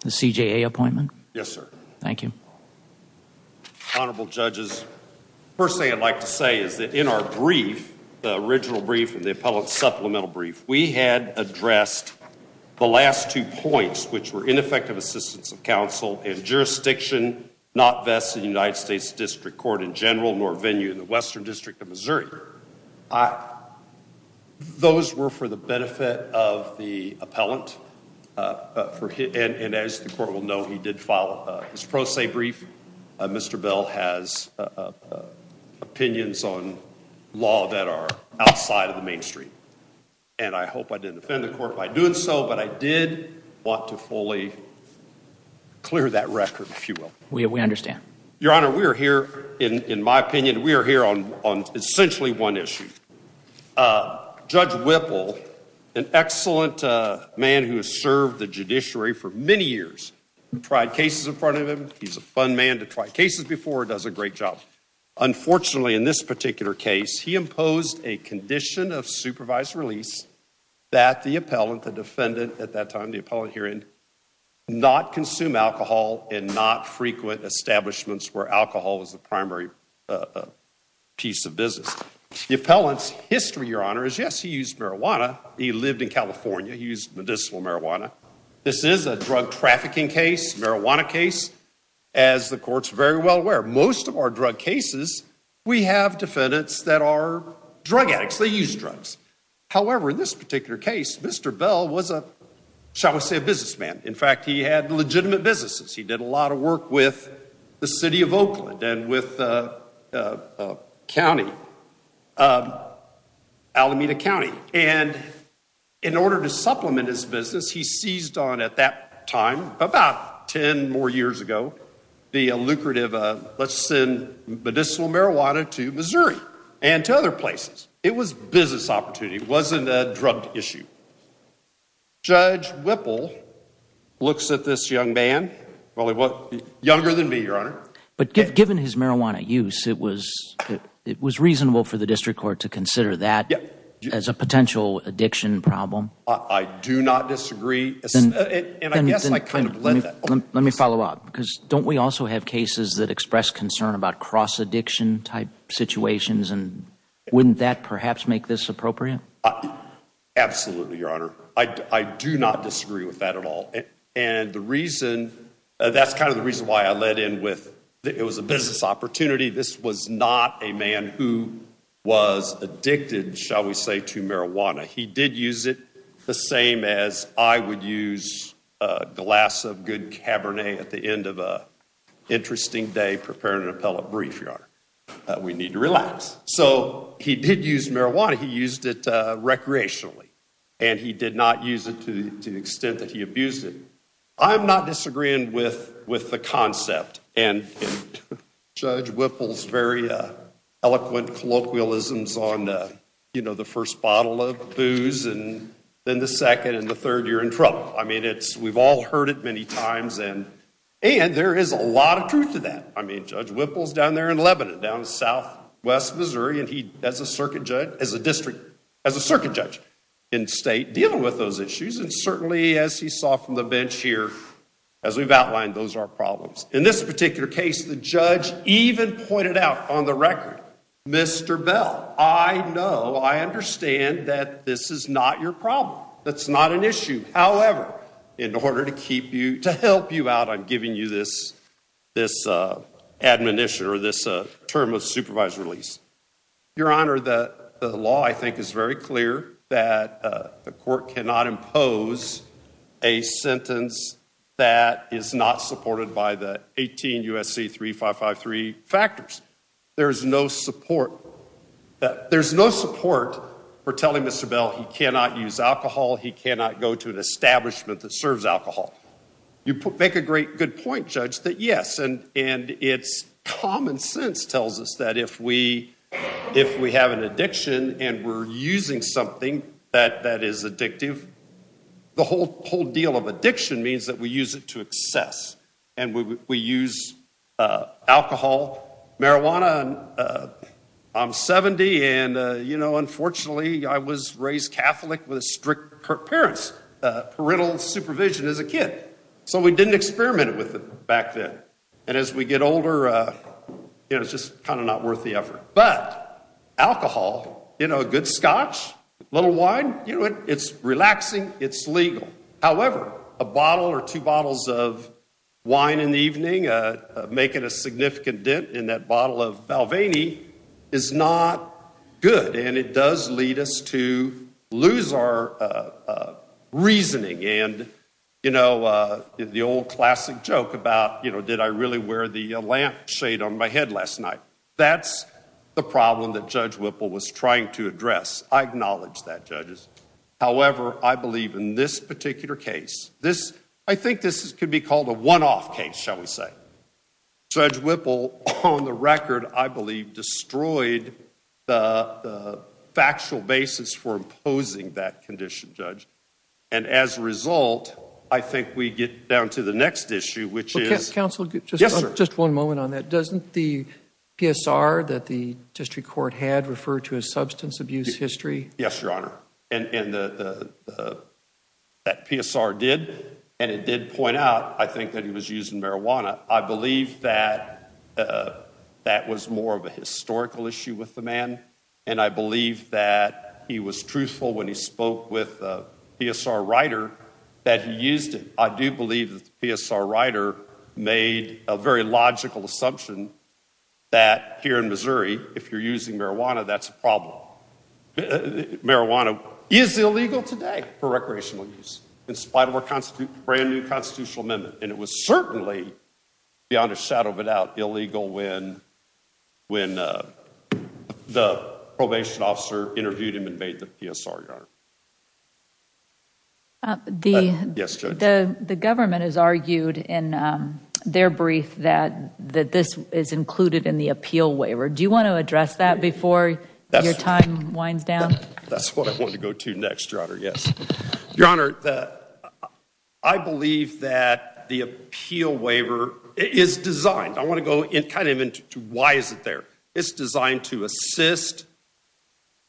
The CJA appointment? Yes, sir. Thank you. Honorable judges, first thing I'd like to say is that in our brief, the original brief and the appellant's supplemental brief, we had addressed the last two points, which were ineffective assistance of counsel and jurisdiction not vested in the United States District Court in general, nor venue in the Western District of Missouri. Those were for the benefit of the appellant. And as the court will know, he did file his pro se brief. Mr. Bell has opinions on law that are outside of the mainstream. And I hope I didn't offend the court by doing so, but I did want to fully clear that record, if you will. We understand. Your Honor, we are here, in my opinion, we are here on essentially one issue. Judge Whipple, an excellent man who has served the judiciary for many years, tried cases in front of him. He's a fun man to try cases before, does a great job. Unfortunately, in this particular case, he imposed a condition of supervised release that the appellant, the defendant at that time, the appellant herein, not consume alcohol and not frequent establishments where alcohol was the primary piece of business. The appellant's history, Your Honor, is yes, he used marijuana. He lived in California. He used medicinal marijuana. This is a drug trafficking case, marijuana case. As the court's very well aware, most of our drug cases, we have defendants that are drug addicts. They use drugs. However, in this particular case, Mr. Bell was a, shall we say, a businessman. In fact, he had legitimate businesses. He did a lot of work with the city of Oakland and with the county, Alameda County. And in order to supplement his business, he seized on at that time, about 10 more years ago, the lucrative, let's send medicinal marijuana to Missouri and to other places. It was a business opportunity. It wasn't a drug issue. Judge Whipple looks at this young man, younger than me, Your Honor. But given his marijuana use, it was reasonable for the district court to consider that as a potential addiction problem? I do not disagree. And I guess I kind of led that. Let me follow up, because don't we also have cases that express concern about cross-addiction type situations, and wouldn't that perhaps make this appropriate? Absolutely, Your Honor. I do not disagree with that at all. And the reason, that's kind of the reason why I led in with that it was a business opportunity. This was not a man who was addicted, shall we say, to marijuana. He did use it the same as I would use a glass of good Cabernet at the end of an interesting day preparing an appellate brief, Your Honor. We need to relax. So he did use marijuana. He used it recreationally. And he did not use it to the extent that he abused it. I'm not disagreeing with the concept. And Judge Whipple's very eloquent colloquialisms on the first bottle of booze, and then the second, and the third, you're in trouble. I mean, we've all heard it many times. And there is a lot of truth to that. I mean, Judge Whipple's down there in Lebanon, down southwest Missouri, and he, as a circuit judge, as a district, as a circuit judge in state, dealing with those issues. And certainly, as he saw from the bench here, as we've outlined, those are problems. In this particular case, the judge even pointed out on the record, Mr. Bell, I know, I understand that this is not your problem. That's not an issue. However, in order to keep you, to help you out, I'm giving you this admonition or this term of supervised release. Your Honor, the law, I think, is very clear that the court cannot impose a sentence that is not supported by the 18 U.S.C. 3553 factors. There's no support, there's no support for telling Mr. Bell he cannot use alcohol, he cannot go to an establishment that serves alcohol. You make a great, good point, Judge, that yes, and it's common sense tells us that if we have an addiction and we're using something that is addictive, the whole deal of addiction means that we use it to excess. And we use alcohol, marijuana. I'm 70 and, you know, unfortunately I was raised Catholic with strict parents, parental supervision as a kid. So we didn't experiment with it back then. And as we get older, you know, it's just kind of not worth the effort. But alcohol, you know, a good scotch, a little wine, you know, it's relaxing, it's legal. However, a bottle or two bottles of wine in the evening, making a significant dent in that bottle of Valvaini is not good. And it does lead us to lose our And, you know, the old classic joke about, you know, did I really wear the lamp shade on my head last night? That's the problem that Judge Whipple was trying to address. I acknowledge that, judges. However, I believe in this particular case, this, I think this could be called a one-off case, shall we say. Judge Whipple, on the record, I believe, destroyed the factual basis for imposing that condition, Judge. And as a result, I think we get down to the next issue, which is... Counsel, just one moment on that. Doesn't the PSR that the district court had refer to as substance abuse history? Yes, Your Honor. And that PSR did, and it did point out, I think, that he was using with the man. And I believe that he was truthful when he spoke with the PSR writer that he used it. I do believe that the PSR writer made a very logical assumption that here in Missouri, if you're using marijuana, that's a problem. Marijuana is illegal today for recreational use, in spite of our brand new constitutional amendment. And it was certainly, beyond a shadow of a doubt, illegal when the probation officer interviewed him and made the PSR, Your Honor. The government has argued in their brief that this is included in the appeal waiver. Do you want to address that before your time winds down? That's what I want to go to next, Your Honor. Yes. Your Honor, I believe that the appeal waiver is designed. I want to go kind of into why is it there. It's designed to assist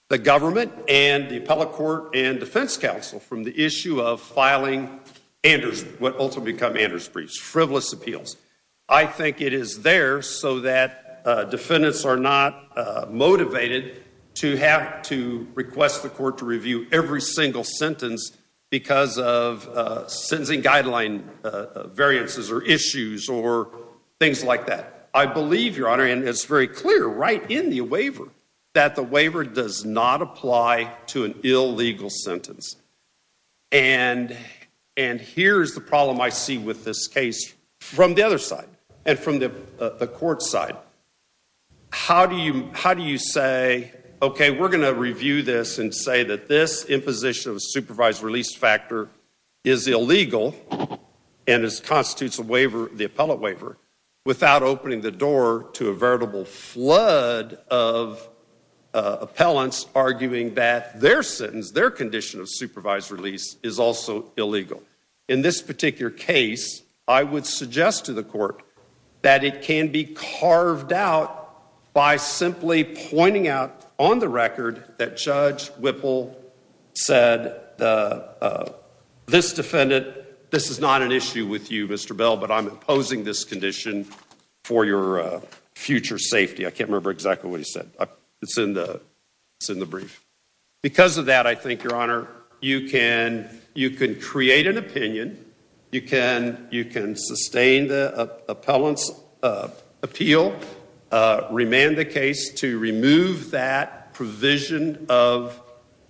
the government and the appellate court and defense counsel from the issue of filing Anders, what ultimately become Anders briefs, frivolous appeals. I think it is there so that defendants are not motivated to have to request the court to review every single sentence because of sentencing guideline variances or issues or things like that. I believe, Your Honor, and it's very clear right in the waiver that the waiver does not apply to an illegal sentence. And here's the problem I see with this case from the other side and from the court side. How do you say, okay, we're going to review this and say that this imposition of a supervised release factor is illegal and constitutes a waiver, the appellate waiver, without opening the door to a veritable flood of appellants arguing that their sentence, their condition of supervised release is also illegal? In this particular case, I would suggest to the court that it can be carved out by simply pointing out on the record that Judge Whipple said this defendant, this is not an issue with you, Mr. Bell, but I'm imposing this condition for your future safety. I can't remember exactly what he said. It's in the brief. Because of that, I think, Your Honor, you can create an opinion. You can sustain the appellant's appeal, remand the case to remove that provision of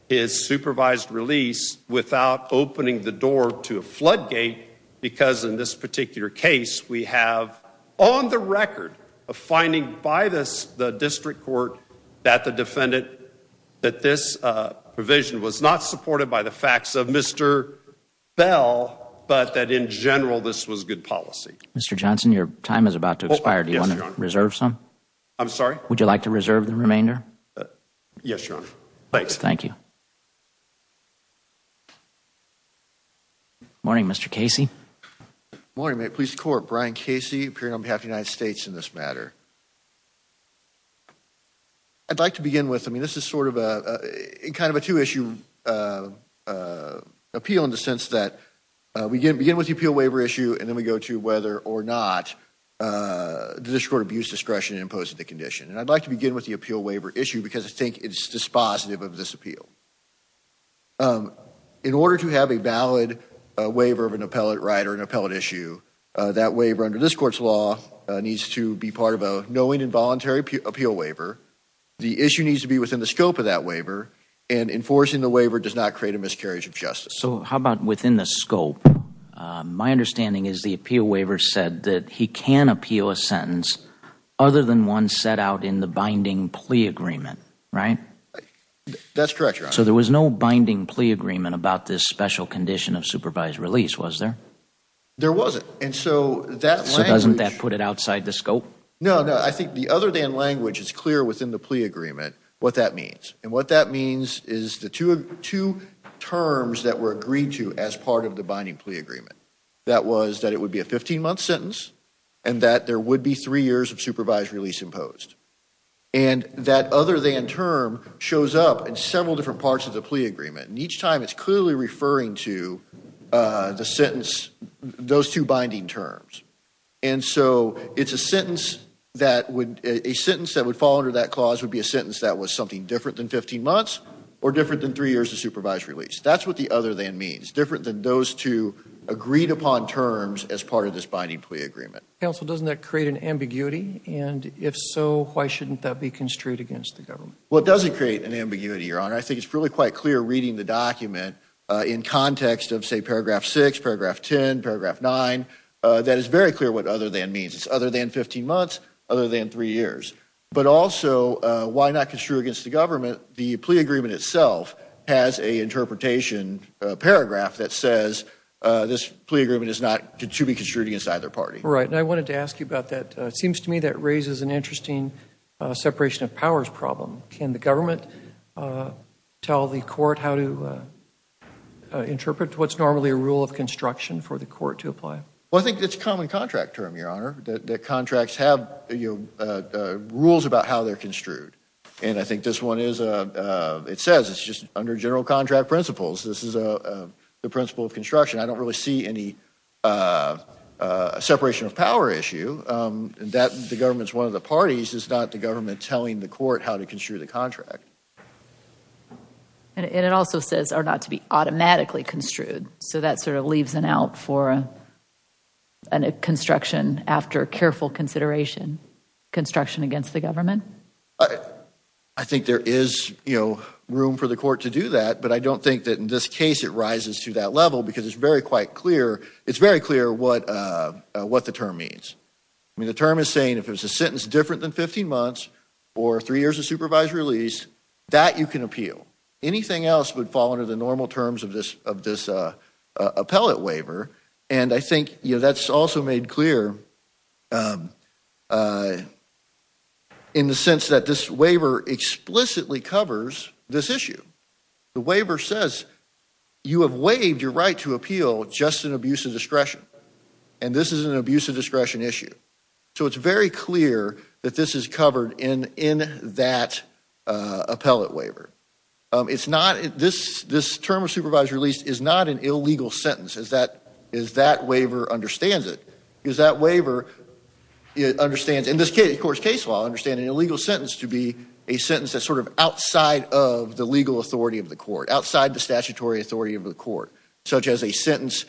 his supervised release without opening the door to a floodgate, because in this particular case, we have on the record a finding by the district court that the defendant, that this provision was not supported by the district court and that this was good policy. Mr. Johnson, your time is about to expire. Do you want to reserve some? I'm sorry? Would you like to reserve the remainder? Yes, Your Honor. Thanks. Thank you. Good morning, Mr. Casey. Good morning, Mr. Police Corp. Brian Casey, appearing on behalf of the United States in this matter. I'd like to begin with, I mean, this is sort of a kind of a two-issue appeal in the sense that we begin with the appeal waiver issue and then we go to whether or not the district court abused discretion in imposing the condition. And I'd like to begin with the appeal waiver issue because I think it's dispositive of this appeal. In order to have a valid waiver of an appellate right or an appellate issue, that waiver under this court's law needs to be part of a knowing and voluntary appeal waiver. The issue needs to be within the scope of that waiver and enforcing the waiver does not create a miscarriage of justice. So, how about within the scope? My understanding is the appeal waiver said that he can appeal a sentence other than one set out in the binding plea agreement, right? That's correct, Your Honor. So there was no binding plea agreement about this special condition of supervised release, was there? There wasn't. And so that language... So doesn't that put it outside the scope? No, no. I think the other than language, it's clear within the plea agreement what that means is the two terms that were agreed to as part of the binding plea agreement. That was that it would be a 15-month sentence and that there would be three years of supervised release imposed. And that other than term shows up in several different parts of the plea agreement. And each time it's clearly referring to the sentence, those two binding terms. And so it's a sentence that would... A sentence that would fall under that clause would be a sentence that was something different than 15 months or different than three years of supervised release. That's what the other than means, different than those two agreed upon terms as part of this binding plea agreement. Counsel, doesn't that create an ambiguity? And if so, why shouldn't that be construed against the government? Well, it doesn't create an ambiguity, Your Honor. I think it's really quite clear reading the document in context of say paragraph six, paragraph 10, paragraph nine, that is very clear what other than means. It's other than 15 months, other than three years. But also why not construe against the government? The plea agreement itself has a interpretation paragraph that says this plea agreement is not to be construed against either party. Right. And I wanted to ask you about that. It seems to me that raises an interesting separation of powers problem. Can the government tell the court how to interpret what's normally a rule of construction for the court to apply? Well, I think it's a common contract term, Your Honor, that contracts have rules about how they're construed. And I think this one is, it says it's just under general contract principles. This is the principle of construction. I don't really see any separation of power issue that the government's one of the parties. It's not the government telling the court how to construe the contract. And it also says are not to be automatically construed. So that sort of leaves an out for a construction after careful consideration, construction against the government? I think there is, you know, room for the court to do that. But I don't think that in this case it rises to that level because it's very quite clear, it's very clear what the term means. I mean, the term is saying if it's a sentence different than 15 months or three years of supervised release, that you can appeal. Anything else would fall under the And I think, you know, that's also made clear in the sense that this waiver explicitly covers this issue. The waiver says you have waived your right to appeal just in abuse of discretion. And this is an abuse of discretion issue. So it's very clear that this is covered in that appellate waiver. It's not, this term of supervised release is not an illegal sentence. Is that waiver understands it? Is that waiver, it understands, in this case, of course, case law understanding an illegal sentence to be a sentence that's sort of outside of the legal authority of the court, outside the statutory authority of the court, such as a sentence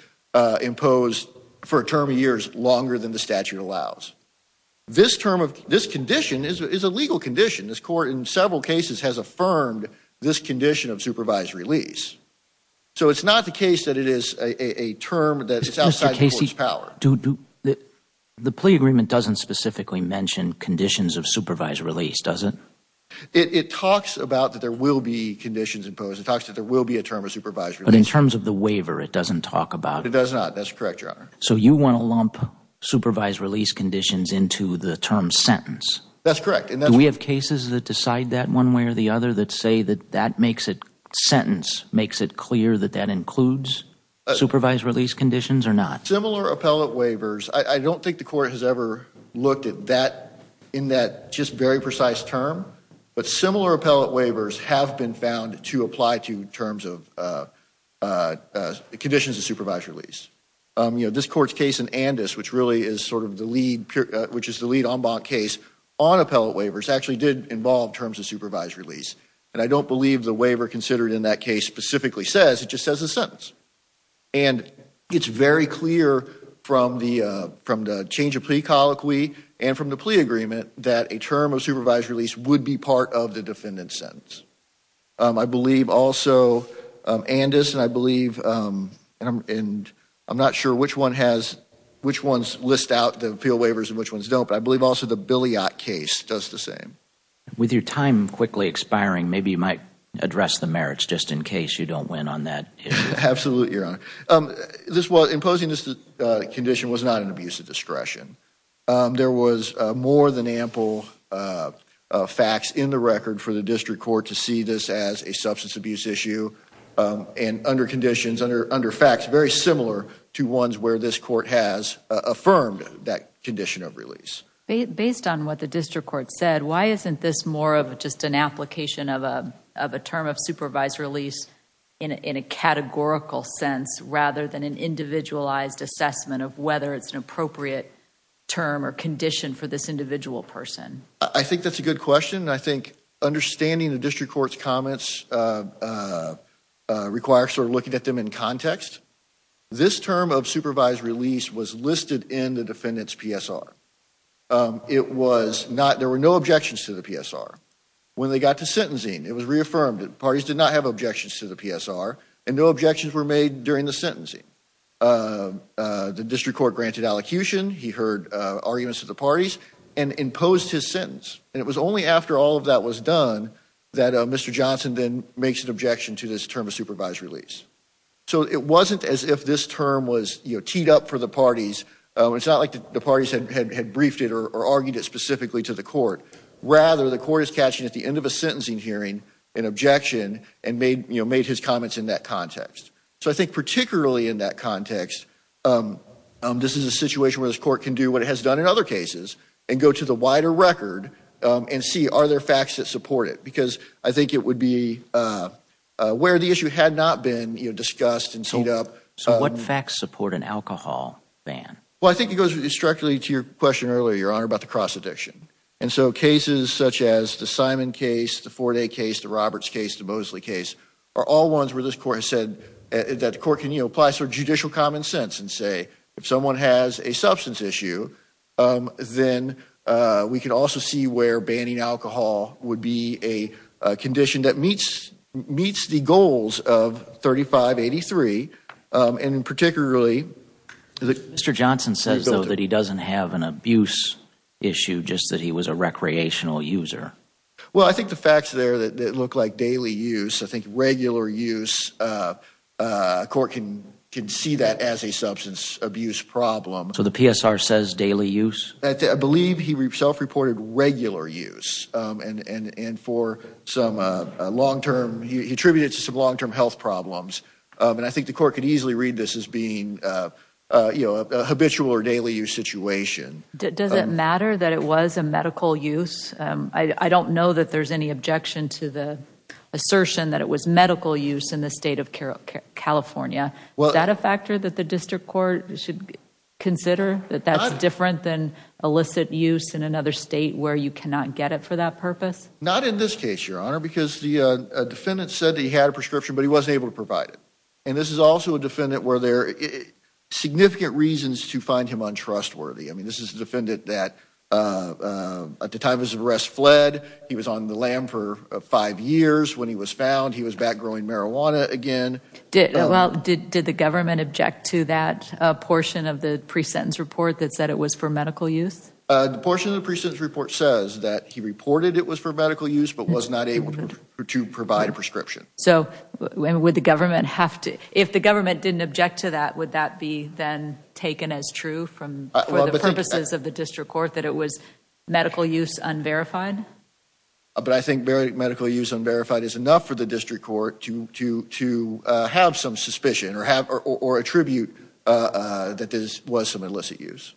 imposed for a term of years longer than the statute allows. This term of, this condition is a legal condition. This court in several cases has affirmed this condition of supervised release. So it's not the case that it is a term that's outside the court's power. The plea agreement doesn't specifically mention conditions of supervised release, does it? It talks about that there will be conditions imposed. It talks that there will be a term of supervised release. But in terms of the waiver, it doesn't talk about it. It does not. That's correct, Your Honor. So you want to lump supervised release conditions into the term sentence. That's correct. Do we have cases that decide that one way or the other that say that that makes it, sentence makes it clear that that includes supervised release conditions or not? Similar appellate waivers, I don't think the court has ever looked at that in that just very precise term. But similar appellate waivers have been found to apply to terms of conditions of supervised release. You know, this court's case in Andes, which really is sort of the lead en banc case, on appellate waivers actually did involve terms of supervised release. And I don't believe the waiver considered in that case specifically says, it just says a sentence. And it's very clear from the change of plea colloquy and from the plea agreement that a term of supervised release would be part of the defendant's sentence. I believe also Andes, and I believe, and I'm not sure which one has, which ones list out the appeal waivers and which ones don't, but I believe also the Billyott case does the same. With your time quickly expiring, maybe you might address the merits just in case you don't win on that issue. Absolutely, Your Honor. This was, imposing this condition was not an abuse of discretion. There was more than ample facts in the record for the district court to see this as a substance abuse issue and under conditions, under facts very similar to ones where this court has affirmed that condition of release. Based on what the district court said, why isn't this more of just an application of a term of supervised release in a categorical sense rather than an individualized assessment of whether it's an appropriate term or condition for this individual person? I think that's a good question. I think understanding the district court's comments requires sort of looking at them in context. This term of supervised release was listed in the defendant's PSR. It was not, there were no objections to the PSR. When they got to sentencing, it was reaffirmed. Parties did not have objections to the PSR and no objections were made during the sentencing. The district court granted allocution, he heard arguments of the parties and imposed his sentence. And it was only after all of that was done that Mr. Johnson then makes an objection to this term of supervised release. So it wasn't as if this term was teed up for the parties. It's not like the parties had briefed it or argued it specifically to the court. Rather the court is catching at the end of a sentencing hearing an objection and made his comments in that context. So I think particularly in that context, this is a situation where this court can do what it has done in other cases and go to the wider record and see are there facts that support it. Because I think it would be where the issue had not been discussed and teed up. So what facts support an alcohol ban? Well I think it goes directly to your question earlier, your honor, about the cross addiction. And so cases such as the Simon case, the Forday case, the Roberts case, the Mosley case are all ones where this court has said that the court can apply sort of judicial common sense and say if someone has a substance issue, then we can also see where banning alcohol would be a condition that meets the goals of 3583 and particularly... Mr. Johnson says though that he doesn't have an abuse issue, just that he was a recreational user. Well I think the facts there that look like daily use, I think regular use, a court can see that as a substance abuse problem. So the PSR says daily use? I believe he self-reported regular use and for some long-term, he attributed it to some long-term health problems. And I think the court could easily read this as being a habitual or daily use situation. Does it matter that it was a medical use? I don't know that there's any objection to the assertion that it was medical use in the state of California. Is that a factor that the district court should consider, that that's different than illicit use in another state where you cannot get it for that purpose? Not in this case, Your Honor, because the defendant said that he had a prescription but he wasn't able to provide it. And this is also a defendant where there are significant reasons to find him untrustworthy. I mean, this is a defendant that at the time of his arrest fled, he was on the lam for five years when he was found, he was back growing marijuana again. Well, did the government object to that portion of the pre-sentence report that said it was for medical use? The portion of the pre-sentence report says that he reported it was for medical use but was not able to provide a prescription. So would the government have to, if the government didn't object to that, would that be then taken as true for the purposes of the district court that it was medical use unverified? But I think medical use unverified is enough for the district court to have some suspicion or attribute that this was some illicit use.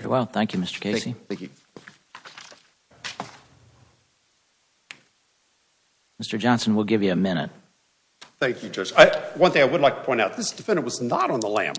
Very well, thank you, Mr. Casey. Mr. Johnson, we'll give you a minute. Thank you, Judge. One thing I would like to point out, this defendant was not on the lam.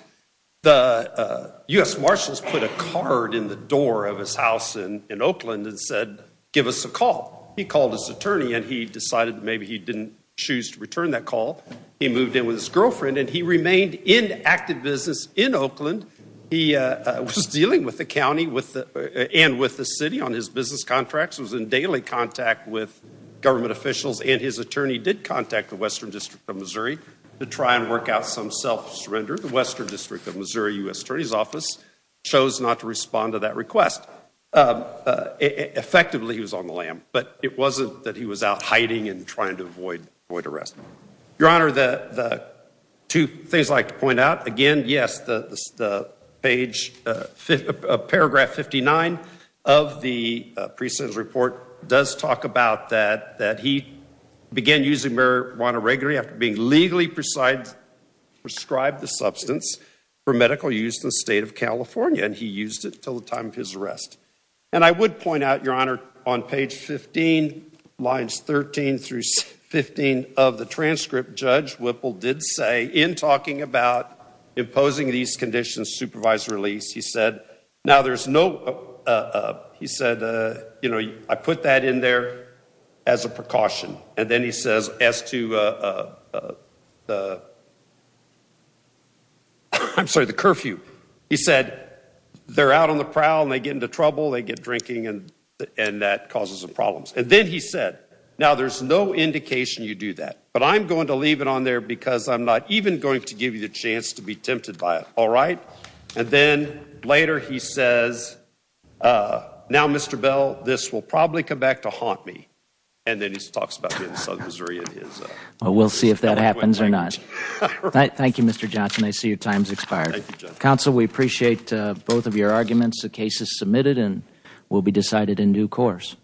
The U.S. Marshals put a card in the door of his house in Oakland and said, give us a call. He called his attorney and he decided maybe he didn't choose to return that call. He moved in with his girlfriend and he remained in active business in Oakland. He was dealing with the county and with the city on his business contracts, was in daily contact with government officials and his attorney did contact the Western District of Missouri to try and work out some self-surrender. The Western District of Missouri U.S. Attorney's Office chose not to respond to that request. Effectively, he was on the lam, but it wasn't that he was out hiding and trying to avoid arrest. Your Honor, the two things I'd like to point out, again, yes, the paragraph 59 of the pre-sentence report does talk about that he began using marijuana regularly after being legally prescribed the substance for medical use in the state of California and he used it until the time of his arrest. And I would point out, Your Honor, on page 15, lines 13 through 15 of the transcript, Judge Whipple did say, in talking about imposing these conditions, supervised release, he said, now there's no, he said, you know, I put that in there as a precaution. And then he says as to the, I'm sorry, the curfew. He said, they're out on the prowl and they get into trouble, they get drinking and that causes problems. And then he said, now there's no indication you do that. But I'm going to leave it on there because I'm not even going to give you the chance to be tempted by it, all right? And then later he says, now, Mr. Bell, this will probably come back to haunt me. And then he talks about me in South Missouri and his eloquent language. We'll see if that happens or not. Thank you, Mr. Johnson. I see your time's expired. Thank you, Judge. Counsel, we appreciate both of your arguments. The case is submitted and will be decided in due course.